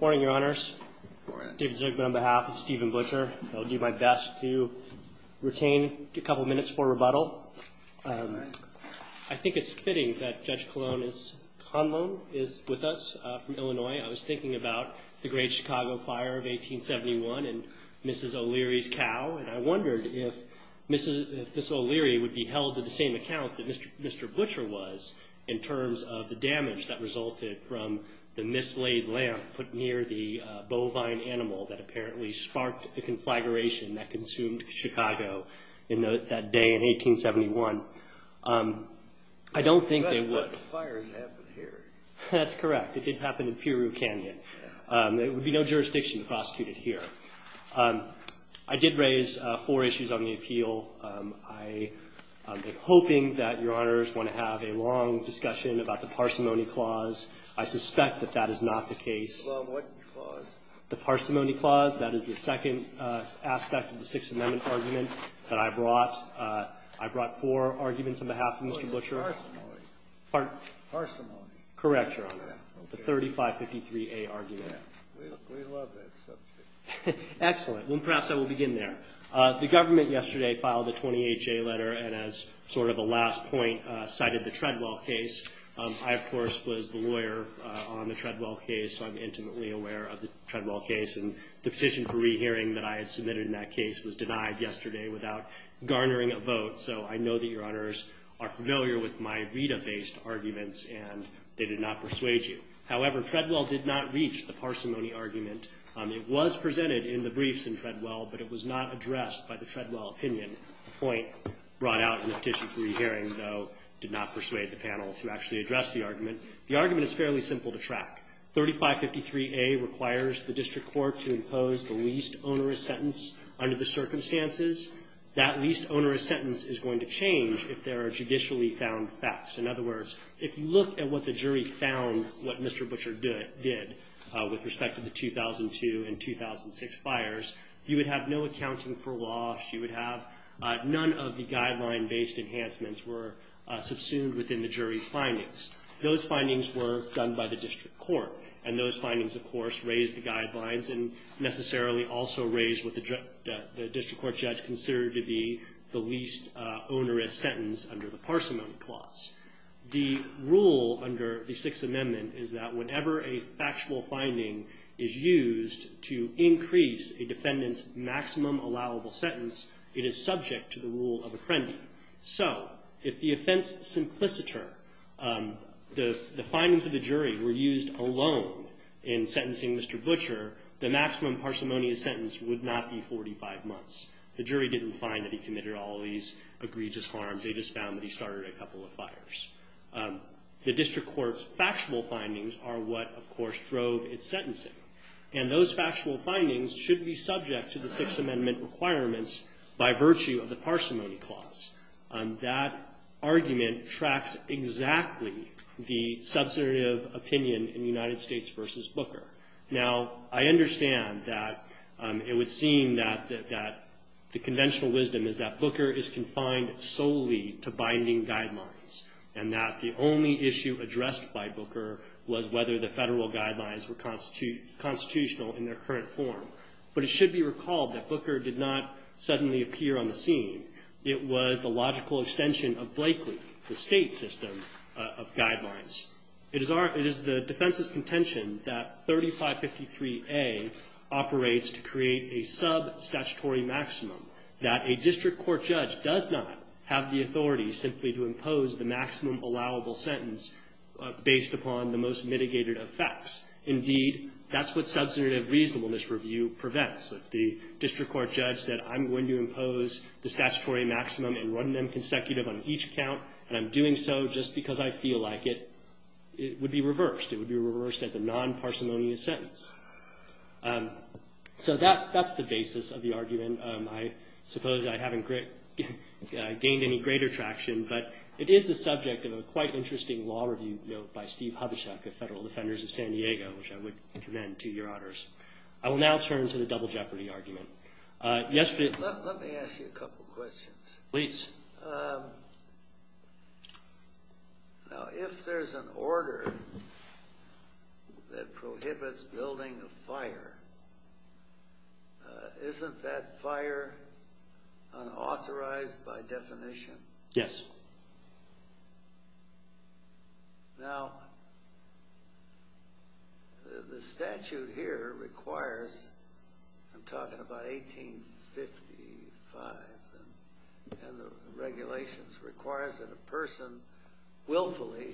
Morning, your honors. David Zucman on behalf of Steven Butcher. I'll do my best to retain a couple of minutes for rebuttal. I think it's fitting that Judge Colon is with us from Illinois. I was thinking about the great Chicago fire of 1871 and Mrs. O'Leary's cow and I wondered if Mrs. O'Leary would be held to the same account that Mr. Butcher was in terms of the damage that resulted from the mislaid lamp put near the bovine animal that apparently sparked the conflagration that consumed Chicago that day in 1871. I don't think they would. That's correct. It did happen in Piru Canyon. There would be no jurisdiction to prosecute it here. I did raise four issues on the appeal. I am hoping that your honors want to have a long discussion about the parsimony clause. I suspect that that is not the case. Well, what clause? The parsimony clause. That is the second aspect of the Sixth Amendment argument that I brought. I brought four arguments on behalf of Mr. Butcher. Parsimony. Pardon? Parsimony. Correct, your honor. The 3553A argument. We love that subject. Excellent. Well, perhaps I will begin there. The government yesterday filed a 28-J letter and as sort of a last point cited the Treadwell case. I, of course, was the lawyer on the Treadwell case so I'm intimately aware of the Treadwell case and the petition for rehearing that I had submitted in that case was denied yesterday without garnering a vote, so I know that your honors are familiar with my Rita-based arguments and they did not persuade you. However, Treadwell did not reach the parsimony argument. It was presented in the briefs in Treadwell, but it was not addressed by the Treadwell opinion. The point brought out in the petition for rehearing, though, did not persuade the panel to actually address the argument. The argument is fairly simple to track. 3553A requires the district court to impose the least onerous sentence under the circumstances. That least onerous sentence is going to change if there are judicially found facts. In other words, if you look at what the jury found, what Mr. Butcher did with respect to the 2002 and 2006 fires, you would have no accounting for wash. You would have none of the guideline-based enhancements were subsumed within the jury's findings. Those findings were done by the district court and those findings, of course, raised the guidelines and necessarily also raised what the district court judge considered to be the least onerous sentence under the parsimony clause. The rule under the Sixth Amendment is that whenever a factual finding is used to increase a defendant's maximum allowable sentence, it is subject to the rule of apprendi. So if the offense simpliciter, the findings of the jury, were used alone in sentencing Mr. Butcher, the maximum parsimonious sentence would not be 45 months. The jury didn't find that he committed all these egregious harms. They just found that he started a couple of fires. The district court's factual findings are what, of course, drove its sentencing. And those factual findings should be subject to the Sixth Amendment requirements by virtue of the parsimony clause. That argument tracks exactly the substantive opinion in United States v. Booker. Now, I understand that it would seem that the conventional wisdom is that Booker is confined solely to binding guidelines and that the only issue addressed by Booker was whether the federal guidelines were constitutional in their current form. But it should be recalled that Booker did not suddenly appear on the scene. It was the logical extension of Blakeley, the state system of guidelines. It is the defense's contention that 3553A operates to create a substatutory maximum, that a district court judge does not have the authority simply to impose the maximum allowable sentence based upon the most mitigated effects. Indeed, that's what substantive reasonableness review prevents. If the district court judge said, I'm going to impose the statutory maximum and run them consecutive on each account, and I'm doing so just because I feel like it, it would be reversed. It would be reversed as a non-parsimonious sentence. So that's the basis of the argument. I suppose I haven't gained any greater traction, but it is the subject of a quite interesting law review note by Steve Hubachek of Federal Defenders of San Diego, which I would commend to your honors. I will now turn to the double jeopardy argument. Let me ask you a couple questions. Please. Now, if there's an order that prohibits building a fire, isn't that fire unauthorized by definition? Yes. Now, the statute here requires, I'm talking about 1855, and the regulations requires that a person willfully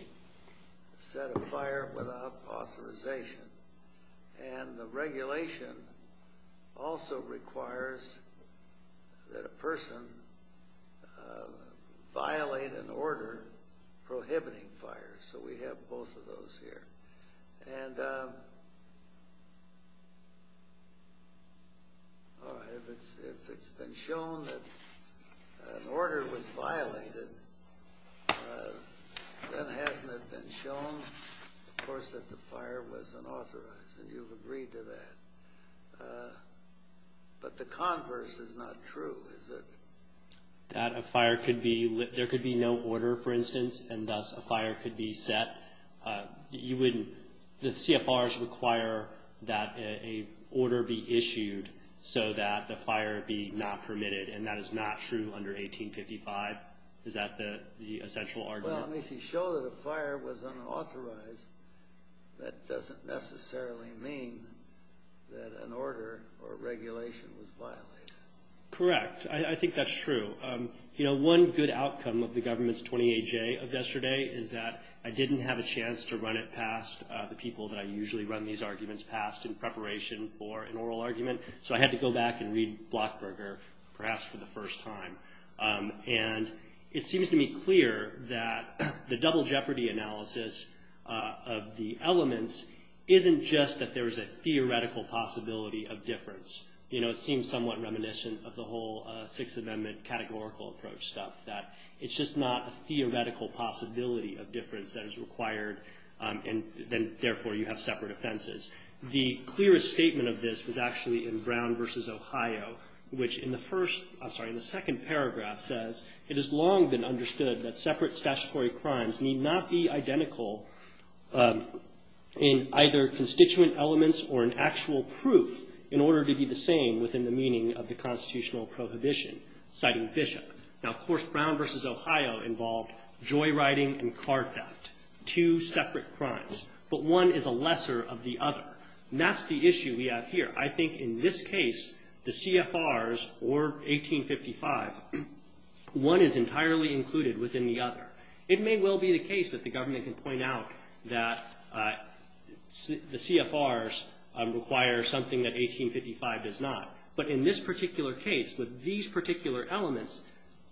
set a fire without authorization. And the regulation also requires that a person violate an order prohibiting fire. So we have both of those here. And if it's been shown that an order was violated, then hasn't it been shown, of course, that the fire was unauthorized, and you've agreed to that. But the converse is not true, is it? That a fire could be, there could be no order, for instance, and thus a fire could be set. The CFRs require that an order be issued so that the fire be not permitted, and that is not true under 1855. Is that the essential argument? Well, if you show that a fire was unauthorized, that doesn't necessarily mean that an order or regulation was violated. Correct. I think that's true. One good outcome of the government's 20-AJ of yesterday is that I didn't have a chance to run it past the people that I usually run these arguments past in preparation for an oral argument. So I had to go back and read Blockberger, perhaps for the first time. And it seems to me clear that the double jeopardy analysis of the elements isn't just that there's a theoretical possibility of difference. You know, it seems somewhat reminiscent of the whole Sixth Amendment categorical approach stuff, that it's just not a theoretical possibility of difference that is required, and then, therefore, you have separate offenses. The clearest statement of this was actually in Brown v. Ohio, which in the first, I'm sorry, in the second paragraph says, It has long been understood that separate statutory crimes need not be identical in either constituent elements or in actual proof in order to be the same within the meaning of the constitutional prohibition, citing Bishop. Now, of course, Brown v. Ohio involved joyriding and car theft, two separate crimes. But one is a lesser of the other. And that's the issue we have here. I think in this case, the CFRs or 1855, one is entirely included within the other. It may well be the case that the government can point out that the CFRs require something that 1855 does not. But in this particular case, with these particular elements,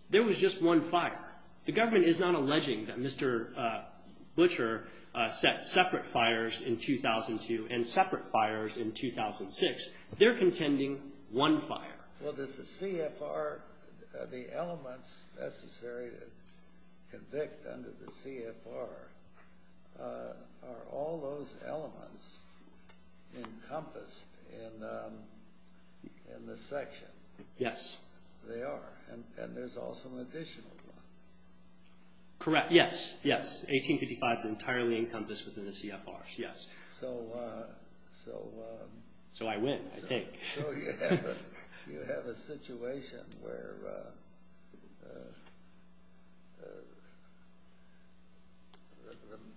there was just one fire. The government is not alleging that Mr. Butcher set separate fires in 2002 and separate fires in 2006. They're contending one fire. Well, does the CFR, the elements necessary to convict under the CFR, are all those elements encompassed in the section? Yes. They are. And there's also an additional one. Correct. Yes, yes. 1855 is entirely encompassed within the CFRs. Yes. So. So. So I win, I think. So you have a situation where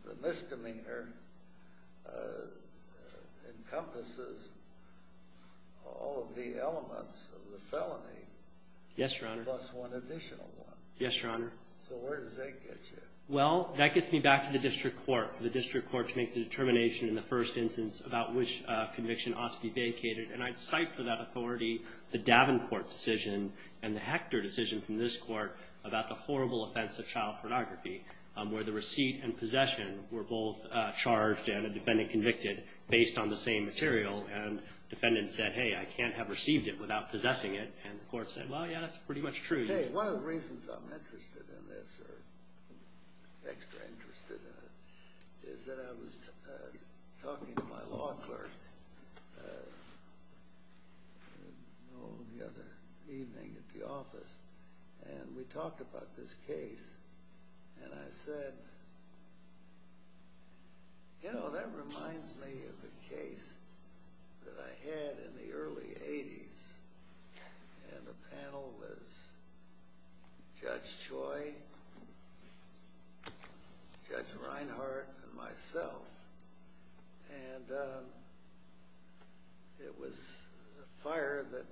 the misdemeanor encompasses all of the elements of the felony. Yes, Your Honor. Plus one additional one. Yes, Your Honor. So where does that get you? Well, that gets me back to the district court, the district court to make the determination in the first instance about which conviction ought to be vacated. And I'd cite for that authority the Davenport decision and the Hector decision from this court about the horrible offense of child pornography, where the receipt and possession were both charged and a defendant convicted based on the same material. And the defendant said, hey, I can't have received it without possessing it. And the court said, well, yeah, that's pretty much true. Okay. One of the reasons I'm interested in this, or extra interested in it, is that I was talking to my law clerk the other evening at the office, and we talked about this case. And I said, you know, that reminds me of a case that I had in the early 80s. And the panel was Judge Choi, Judge Reinhart, and myself. And it was a fire that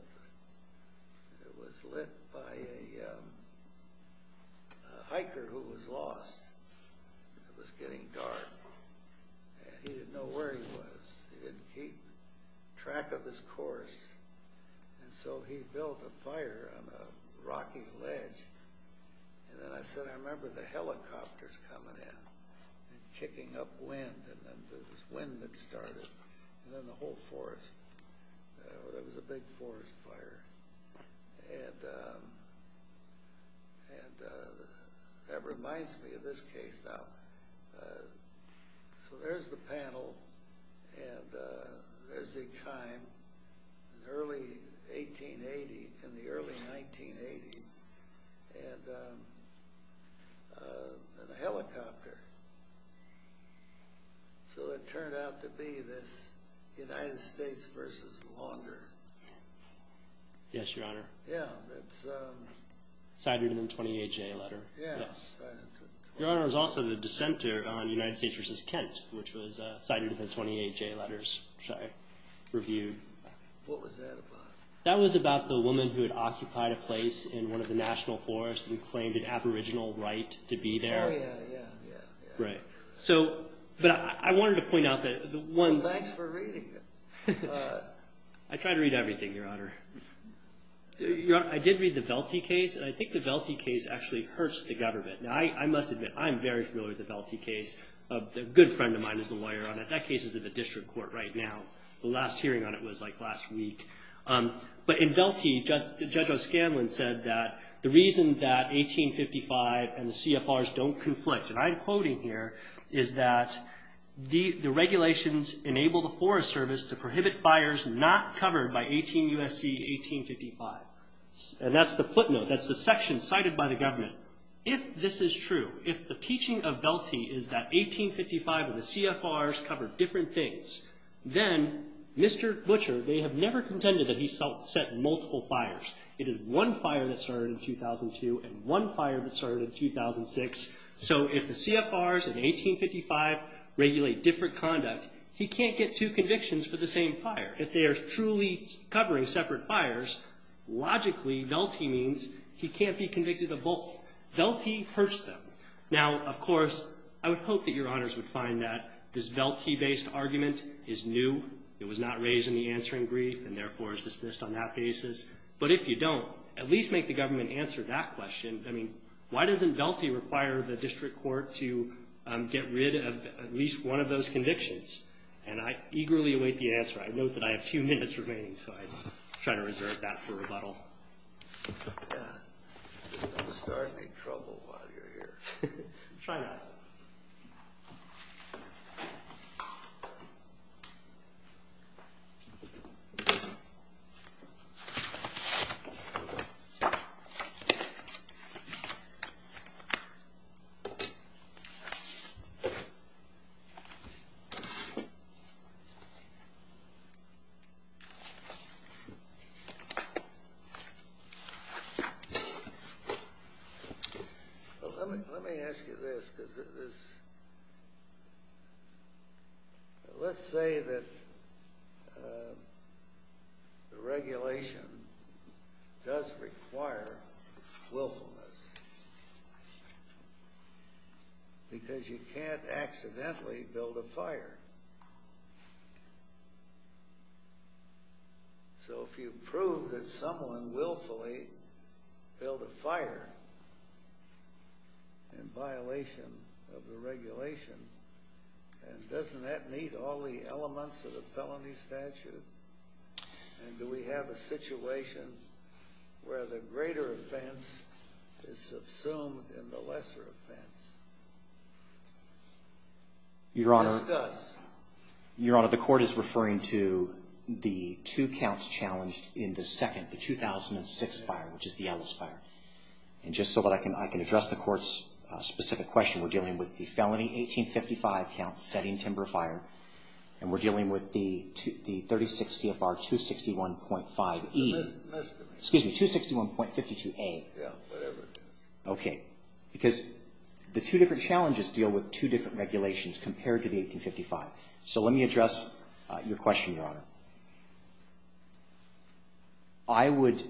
was lit by a hiker who was lost. It was getting dark. And he didn't know where he was. He didn't keep track of his course. And so he built a fire on a rocky ledge. And then I said, I remember the helicopters coming in and kicking up wind. And then the wind had started. And then the whole forest. It was a big forest fire. And that reminds me of this case now. So there's the panel. And there's a time, early 1880, in the early 1980s, and a helicopter. So it turned out to be this United States versus Longer. Yes, Your Honor. Yeah, that's... Cider to the 28-J letter. Yeah. Your Honor, it was also the dissenter on United States versus Kent, which was Cider to the 28-J letters, which I reviewed. What was that about? That was about the woman who had occupied a place in one of the national forests and claimed an aboriginal right to be there. Oh, yeah, yeah, yeah. Right. But I wanted to point out that the one... Well, thanks for reading it. I try to read everything, Your Honor. I did read the Velthe case. I think the Velthe case actually hurts the government. Now, I must admit, I'm very familiar with the Velthe case. A good friend of mine is the lawyer on it. That case is in the district court right now. The last hearing on it was, like, last week. But in Velthe, Judge O'Scanlan said that the reason that 1855 and the CFRs don't conflict, and I'm quoting here, is that the regulations enable the Forest Service to prohibit fires not covered by 18 U.S.C. 1855. And that's the footnote. That's the section cited by the government. If this is true, if the teaching of Velthe is that 1855 and the CFRs cover different things, then Mr. Butcher, they have never contended that he set multiple fires. It is one fire that started in 2002 and one fire that started in 2006. So if the CFRs in 1855 regulate different conduct, he can't get two convictions for the same fire. If they are truly covering separate fires, logically Velthe means he can't be convicted of both. Velthe first them. Now, of course, I would hope that Your Honors would find that this Velthe-based argument is new. It was not raised in the answering brief and, therefore, is dismissed on that basis. But if you don't, at least make the government answer that question. I mean, why doesn't Velthe require the district court to get rid of at least one of those convictions? And I eagerly await the answer. I note that I have a few minutes remaining, so I try to reserve that for rebuttal. Don't start any trouble while you're here. Try not to. Well, let me ask you this. Let's say that the regulation does require willfulness. Because you can't accidentally build a fire. So if you prove that someone willfully built a fire in violation of the regulation, and doesn't that meet all the elements of the felony statute? And do we have a situation where the greater offense is subsumed in the lesser offense? Discuss. Your Honor, the court is referring to the two counts challenged in the second, the 2006 fire, which is the Ellis fire. And just so that I can address the court's specific question, we're dealing with the felony 1855 count, setting timber fire, and we're dealing with the 36 CFR 261.5E. Excuse me, 261.52A. Yeah, whatever it is. Okay. Because the two different challenges deal with two different regulations compared to the 1855. So let me address your question, Your Honor. I would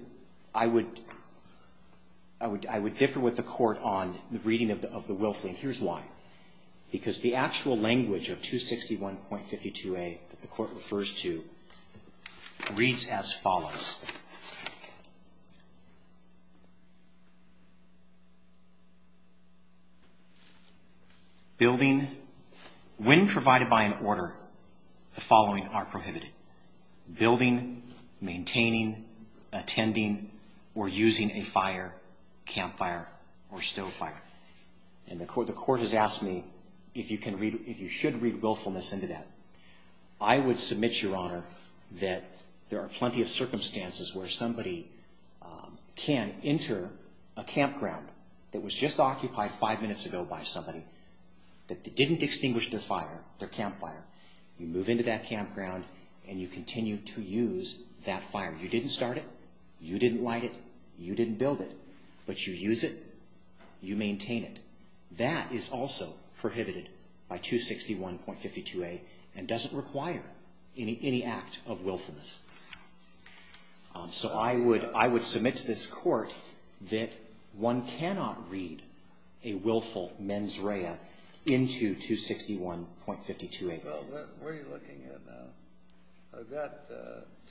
differ with the court on the reading of the willfully, and here's why. Because the actual language of 261.52A that the court refers to reads as follows. When provided by an order, the following are prohibited. Building, maintaining, attending, or using a fire, campfire, or stove fire. And the court has asked me if you should read willfulness into that. I would submit, Your Honor, that there are plenty of circumstances where somebody can enter a campground that was just occupied five minutes ago by somebody that didn't extinguish their campfire. You move into that campground, and you continue to use that fire. You didn't start it. You didn't light it. You didn't build it. But you use it. You maintain it. That is also prohibited by 261.52A and doesn't require any act of willfulness. So I would submit to this court that one cannot read a willful mens rea into 261.52A. Well, what are you looking at now? I've got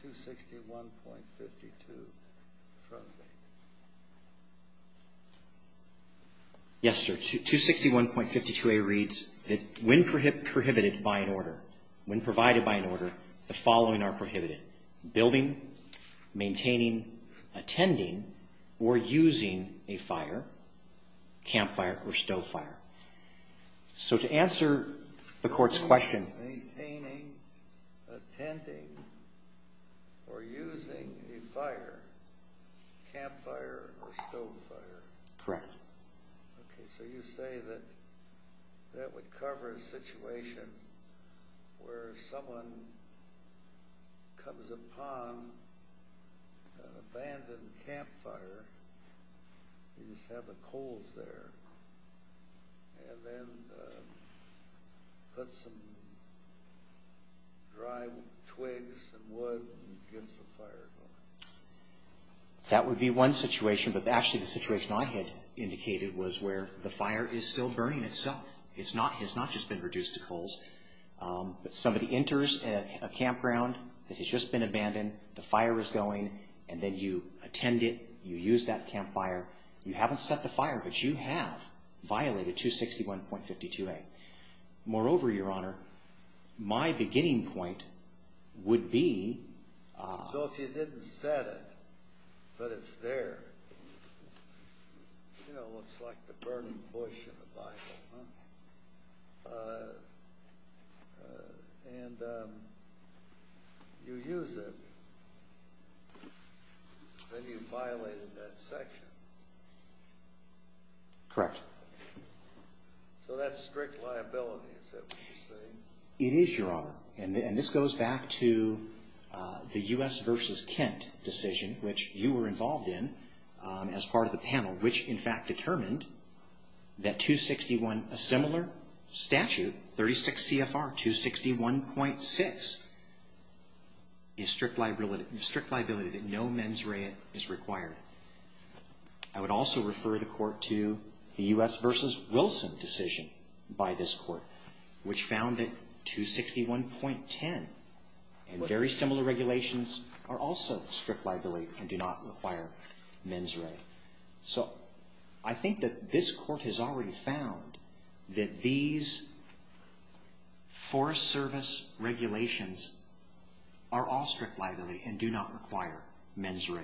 261.52A. Yes, sir. 261.52A reads that when prohibited by an order, when provided by an order, the following are prohibited. Building, maintaining, attending, or using a fire, campfire, or stove fire. So to answer the court's question. Maintaining, attending, or using a fire, campfire, or stove fire. Correct. Okay, so you say that that would cover a situation where someone comes upon an abandoned campfire. You just have the coals there. And then put some dry twigs and wood and get the fire going. That would be one situation. But actually the situation I had indicated was where the fire is still burning itself. It has not just been reduced to coals. But somebody enters a campground that has just been abandoned. The fire is going. And then you attend it. You use that campfire. You haven't set the fire, but you have violated 261.52A. Moreover, Your Honor, my beginning point would be. So if you didn't set it, but it's there. You know, it's like the burning bush in the Bible. And you use it. Then you violated that section. Correct. So that's strict liability. Is that what you're saying? It is, Your Honor. And this goes back to the U.S. versus Kent decision, which you were involved in as part of the panel. Which, in fact, determined that 261, a similar statute, 36 CFR 261.6, is strict liability that no mens rea is required. I would also refer the court to the U.S. versus Wilson decision by this court, which found that 261.10 and very similar regulations are also strict liability and do not require mens rea. So I think that this court has already found that these Forest Service regulations are all strict liability and do not require mens rea,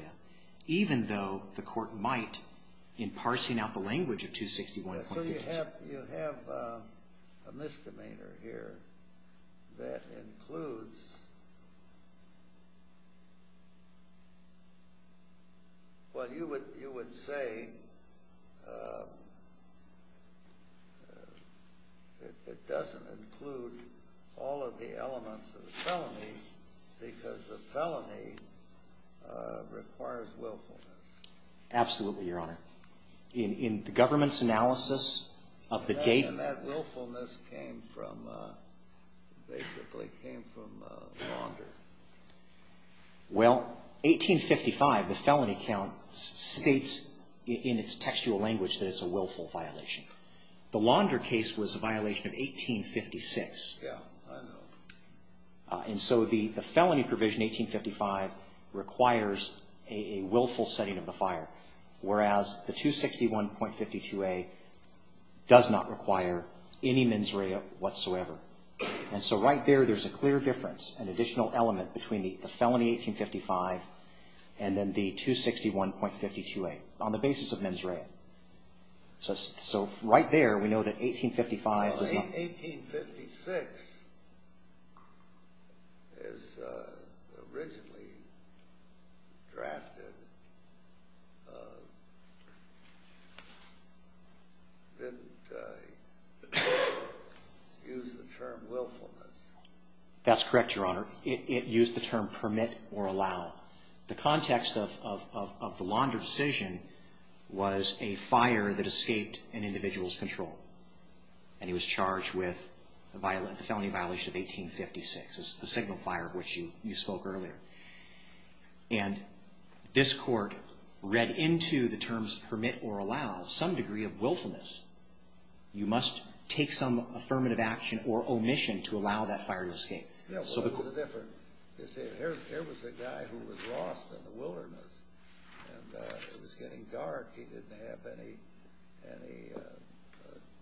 even though the court might, in parsing out the language of 261.6. You have a misdemeanor here that includes, well, you would say it doesn't include all of the elements of the felony because the felony requires willfulness. Absolutely, Your Honor. In the government's analysis of the date... And that willfulness came from, basically came from launder. Well, 1855, the felony count states in its textual language that it's a willful violation. The launder case was a violation of 1856. Yeah, I know. And so the felony provision, 1855, requires a willful setting of the fire, whereas the 261.52a does not require any mens rea whatsoever. And so right there, there's a clear difference, an additional element between the felony 1855 and then the 261.52a on the basis of mens rea. So right there, we know that 1855... Well, 1856 is originally drafted, didn't the court use the term willfulness? That's correct, Your Honor. It used the term permit or allow. The context of the launder decision was a fire that escaped an individual's control, and he was charged with the felony violation of 1856. It's the signal fire of which you spoke earlier. And this court read into the terms permit or allow some degree of willfulness. You must take some affirmative action or omission to allow that fire to escape. Here was a guy who was lost in the wilderness, and it was getting dark. He didn't have any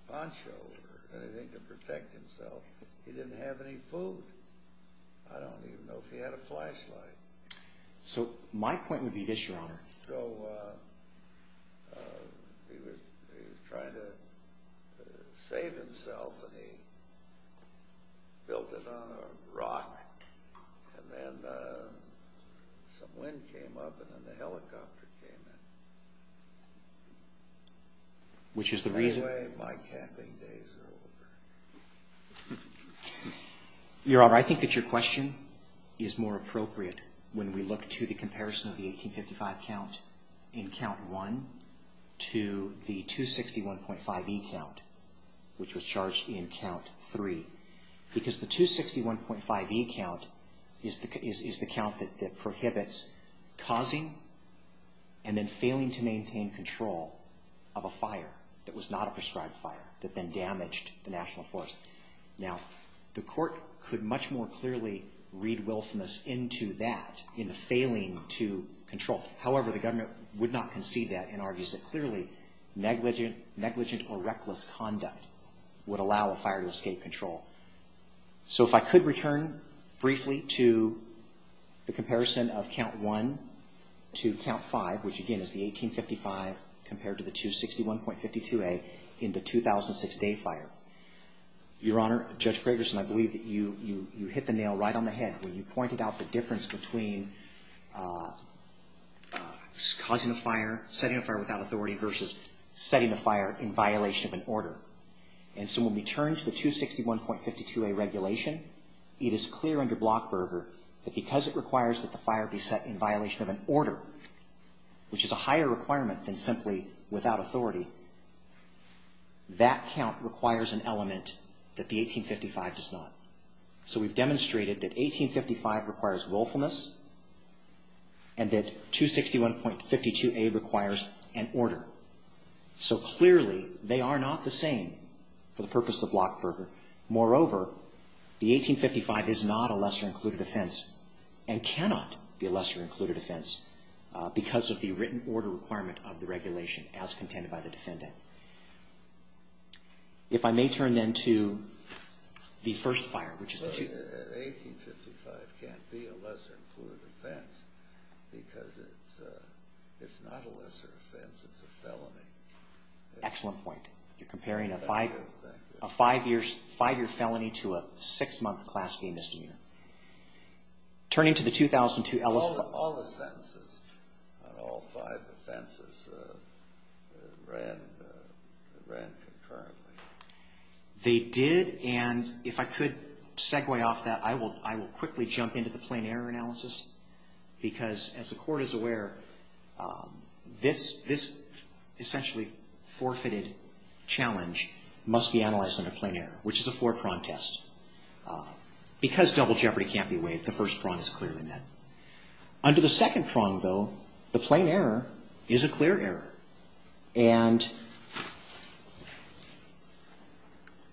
poncho or anything to protect himself. He didn't have any food. I don't even know if he had a flashlight. So he was trying to save himself, and he built it on a rock. And then some wind came up, and then the helicopter came in. Which is the reason... Anyway, my camping days are over. Your Honor, I think that your question is more appropriate when we look to the comparison of the 1855 count in Count 1 to the 261.5e count, which was charged in Count 3. Because the 261.5e count is the count that prohibits causing and then failing to maintain control of a fire that was not a prescribed fire that then damaged the National Forest. Now, the court could much more clearly read willfulness into that, into failing to control. However, the government would not concede that and argues that clearly negligent or reckless conduct would allow a fire to escape control. So if I could return briefly to the comparison of Count 1 to Count 5, which again is the 1855 compared to the 261.52a in the 2006 day fire. Your Honor, Judge Gregerson, I believe that you hit the nail right on the head when you pointed out the difference between causing a fire, setting a fire without authority versus setting a fire in violation of an order. And so when we turn to the 261.52a regulation, it is clear under Blockberger that because it requires that the fire be set in violation of an order, which is a higher requirement than simply without authority, that count requires an element that the 1855 does not. So we've demonstrated that 1855 requires willfulness and that 261.52a requires an order. So clearly they are not the same for the purpose of Blockberger. Moreover, the 1855 is not a lesser included offense and cannot be a lesser included offense because of the written order requirement of the regulation as contended by the defendant. If I may turn then to the first fire, which is the... 1855 can't be a lesser included offense because it's not a lesser offense, it's a felony. Excellent point. You're comparing a five-year felony to a six-month class A misdemeanor. Turning to the 2002... All the sentences on all five offenses ran concurrently. They did, and if I could segue off that, I will quickly jump into the plain error analysis because as the Court is aware, this essentially forfeited challenge must be analyzed under plain error, which is a four-prong test. Because double jeopardy can't be waived, the first prong is clearly met. Under the second prong, though, the plain error is a clear error. And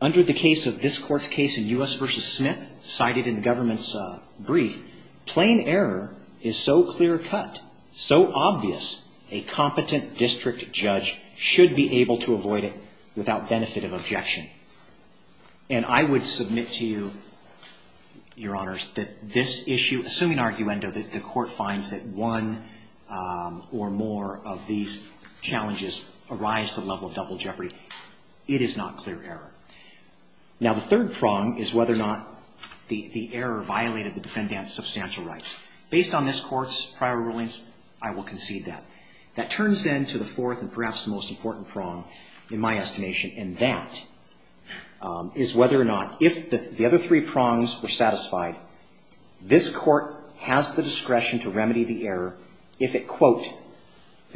under the case of this Court's case in U.S. v. Smith, cited in the government's brief, plain error is so clear-cut, so obvious, a competent district judge should be able to avoid it without benefit of objection. And I would submit to you, Your Honors, that this issue, assuming arguendo, that the Court finds that one or more of these challenges arise to the level of double jeopardy, it is not clear error. Now, the third prong is whether or not the error violated the defendant's substantial rights. Based on this Court's prior rulings, I will concede that. That turns then to the fourth and perhaps the most important prong in my estimation, and that is whether or not, if the other three prongs were satisfied, this Court has the discretion to remedy the error if it, quote,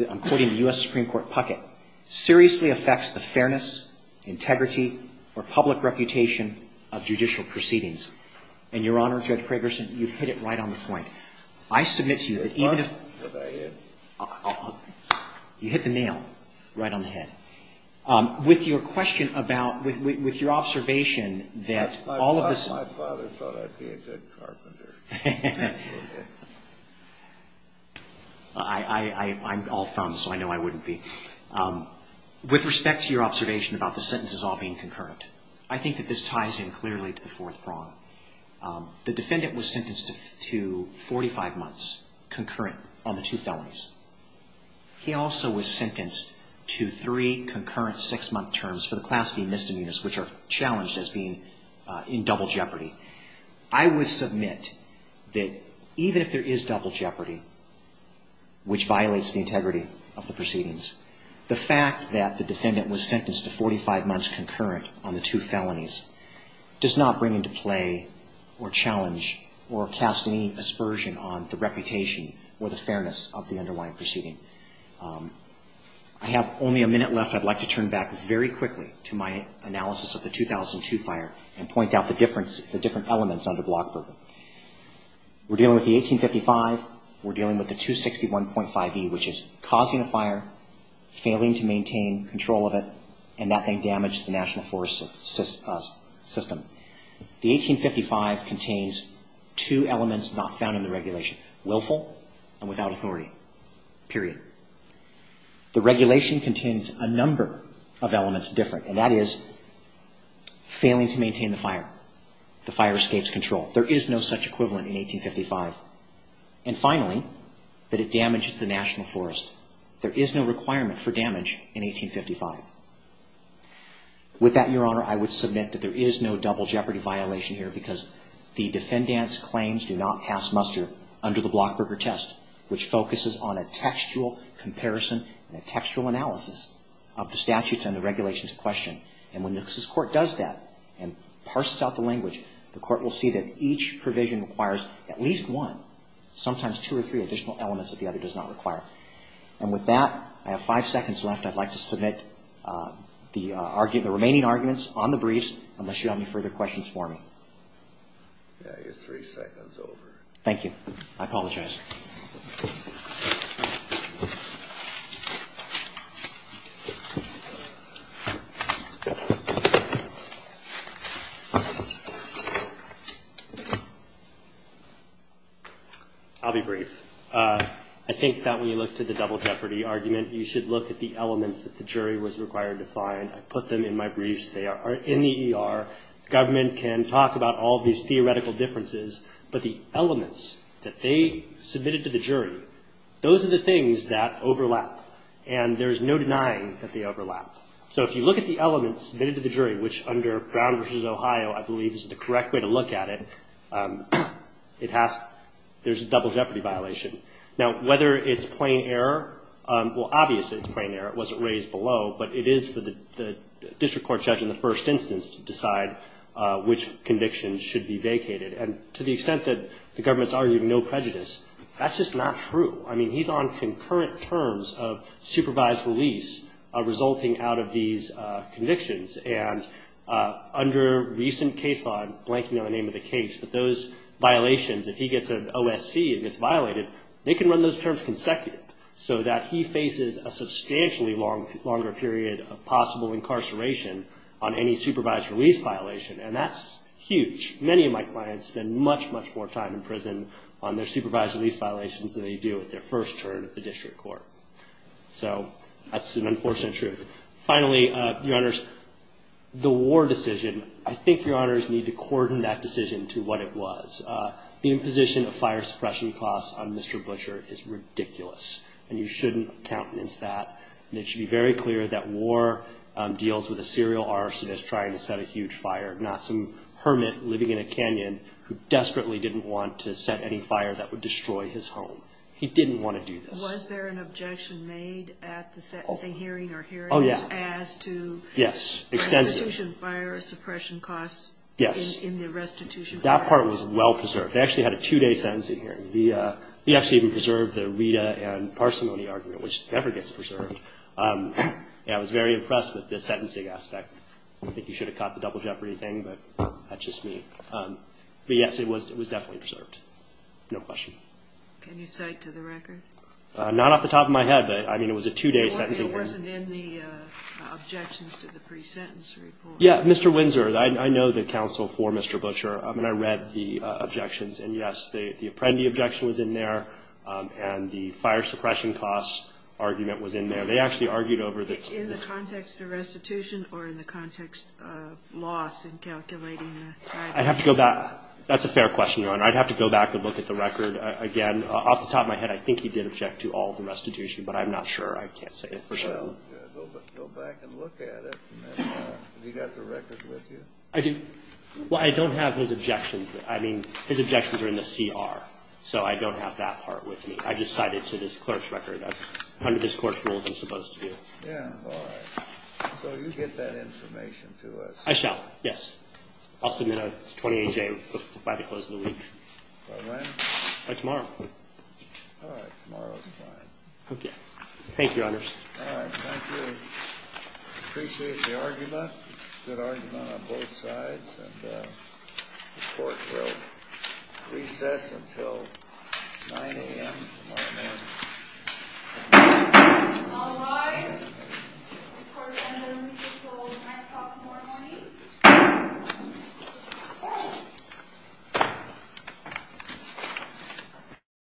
I'm quoting the U.S. Supreme Court pucket, seriously affects the fairness, integrity, or public reputation of judicial proceedings. And, Your Honor, Judge Pragerson, you've hit it right on the point. I submit to you that even if you hit the nail right on the head. With your question about, with your observation that all of this. My father thought I'd be a good carpenter. I'm all thumbs, so I know I wouldn't be. With respect to your observation about the sentences all being concurrent, I think that this ties in clearly to the fourth prong. The defendant was sentenced to 45 months concurrent on the two felonies. He also was sentenced to three concurrent six-month terms for the class B misdemeanors, which are challenged as being in double jeopardy. I would submit that even if there is double jeopardy, which violates the integrity of the proceedings, the fact that the defendant was sentenced to 45 months concurrent on the two felonies does not bring into play or challenge or cast any aspersion on the reputation or the fairness of the underlying proceeding. I have only a minute left. I'd like to turn back very quickly to my analysis of the 2002 fire and point out the different elements under block bourbon. We're dealing with the 1855. We're dealing with the 261.5e, which is causing a fire, failing to maintain control of it, and that thing damages the national forest system. The 1855 contains two elements not found in the regulation, willful and without authority, period. The regulation contains a number of elements different, and that is failing to maintain the fire. The fire escapes control. There is no such equivalent in 1855. And finally, that it damages the national forest. There is no requirement for damage in 1855. With that, Your Honor, I would submit that there is no double jeopardy violation here because the defendant's claims do not pass muster under the Blockburger test, which focuses on a textual comparison and a textual analysis of the statutes and the regulations in question. And when Nixon's court does that and parses out the language, the court will see that each provision requires at least one, sometimes two or three additional elements that the other does not require. And with that, I have five seconds left. And I'd like to submit the remaining arguments on the briefs unless you have any further questions for me. Your three seconds over. Thank you. I apologize. I'll be brief. I think that when you look to the double jeopardy argument, you should look at the elements that the jury was required to find. I put them in my briefs. They are in the ER. The government can talk about all these theoretical differences, but the elements that they submitted to the jury, those are the things that overlap, and there is no denying that they overlap. So if you look at the elements submitted to the jury, which under Brown v. Ohio I believe is the correct way to look at it, there's a double jeopardy violation. Now, whether it's plain error, well, obviously it's plain error. It wasn't raised below, but it is for the district court judge in the first instance to decide which conviction should be vacated. And to the extent that the government's arguing no prejudice, that's just not true. I mean, he's on concurrent terms of supervised release resulting out of these convictions. And under recent case law, I'm blanking on the name of the case, but those violations, if he gets an OSC and gets violated, they can run those terms consecutive so that he faces a substantially longer period of possible incarceration on any supervised release violation. And that's huge. Many of my clients spend much, much more time in prison on their supervised release violations than they do at their first turn at the district court. So that's an unfortunate truth. Finally, Your Honors, the war decision, I think Your Honors need to coordinate that decision to what it was. The imposition of fire suppression costs on Mr. Butcher is ridiculous, and you shouldn't countenance that. And it should be very clear that war deals with a serial arsonist trying to set a huge fire, not some hermit living in a canyon who desperately didn't want to set any fire that would destroy his home. He didn't want to do this. Was there an objection made at the sentencing hearing or hearings as to restitution fire suppression costs in the restitution? Yes. That part was well preserved. They actually had a two-day sentencing hearing. We actually even preserved the Rita and parsimony argument, which never gets preserved. And I was very impressed with the sentencing aspect. I think you should have caught the double jeopardy thing, but that's just me. But, yes, it was definitely preserved. No question. Can you cite to the record? Not off the top of my head, but, I mean, it was a two-day sentencing hearing. It wasn't in the objections to the pre-sentence report. Yeah, Mr. Windsor, I know the counsel for Mr. Butcher. I mean, I read the objections. And, yes, the Apprendi objection was in there, and the fire suppression costs argument was in there. They actually argued over the- In the context of restitution or in the context of loss in calculating the- I'd have to go back. That's a fair question, Your Honor. I'd have to go back and look at the record again. Off the top of my head, I think he did object to all of the restitution, but I'm not sure. I can't say for sure. Well, go back and look at it. Have you got the record with you? I do. Well, I don't have his objections. I mean, his objections are in the CR. So I don't have that part with me. I just cited to this clerk's record as under this Court's rules I'm supposed to do. Yeah, all right. So you get that information to us. I shall. Yes. I'll submit a 28-J by the close of the week. By when? By tomorrow. All right. Tomorrow is fine. Okay. Thank you, Your Honor. All right. Thank you. Appreciate the argument. Good argument on both sides, and the Court will recess until 9 a.m. tomorrow morning. All rise. The Court will recess until 9 o'clock tomorrow morning.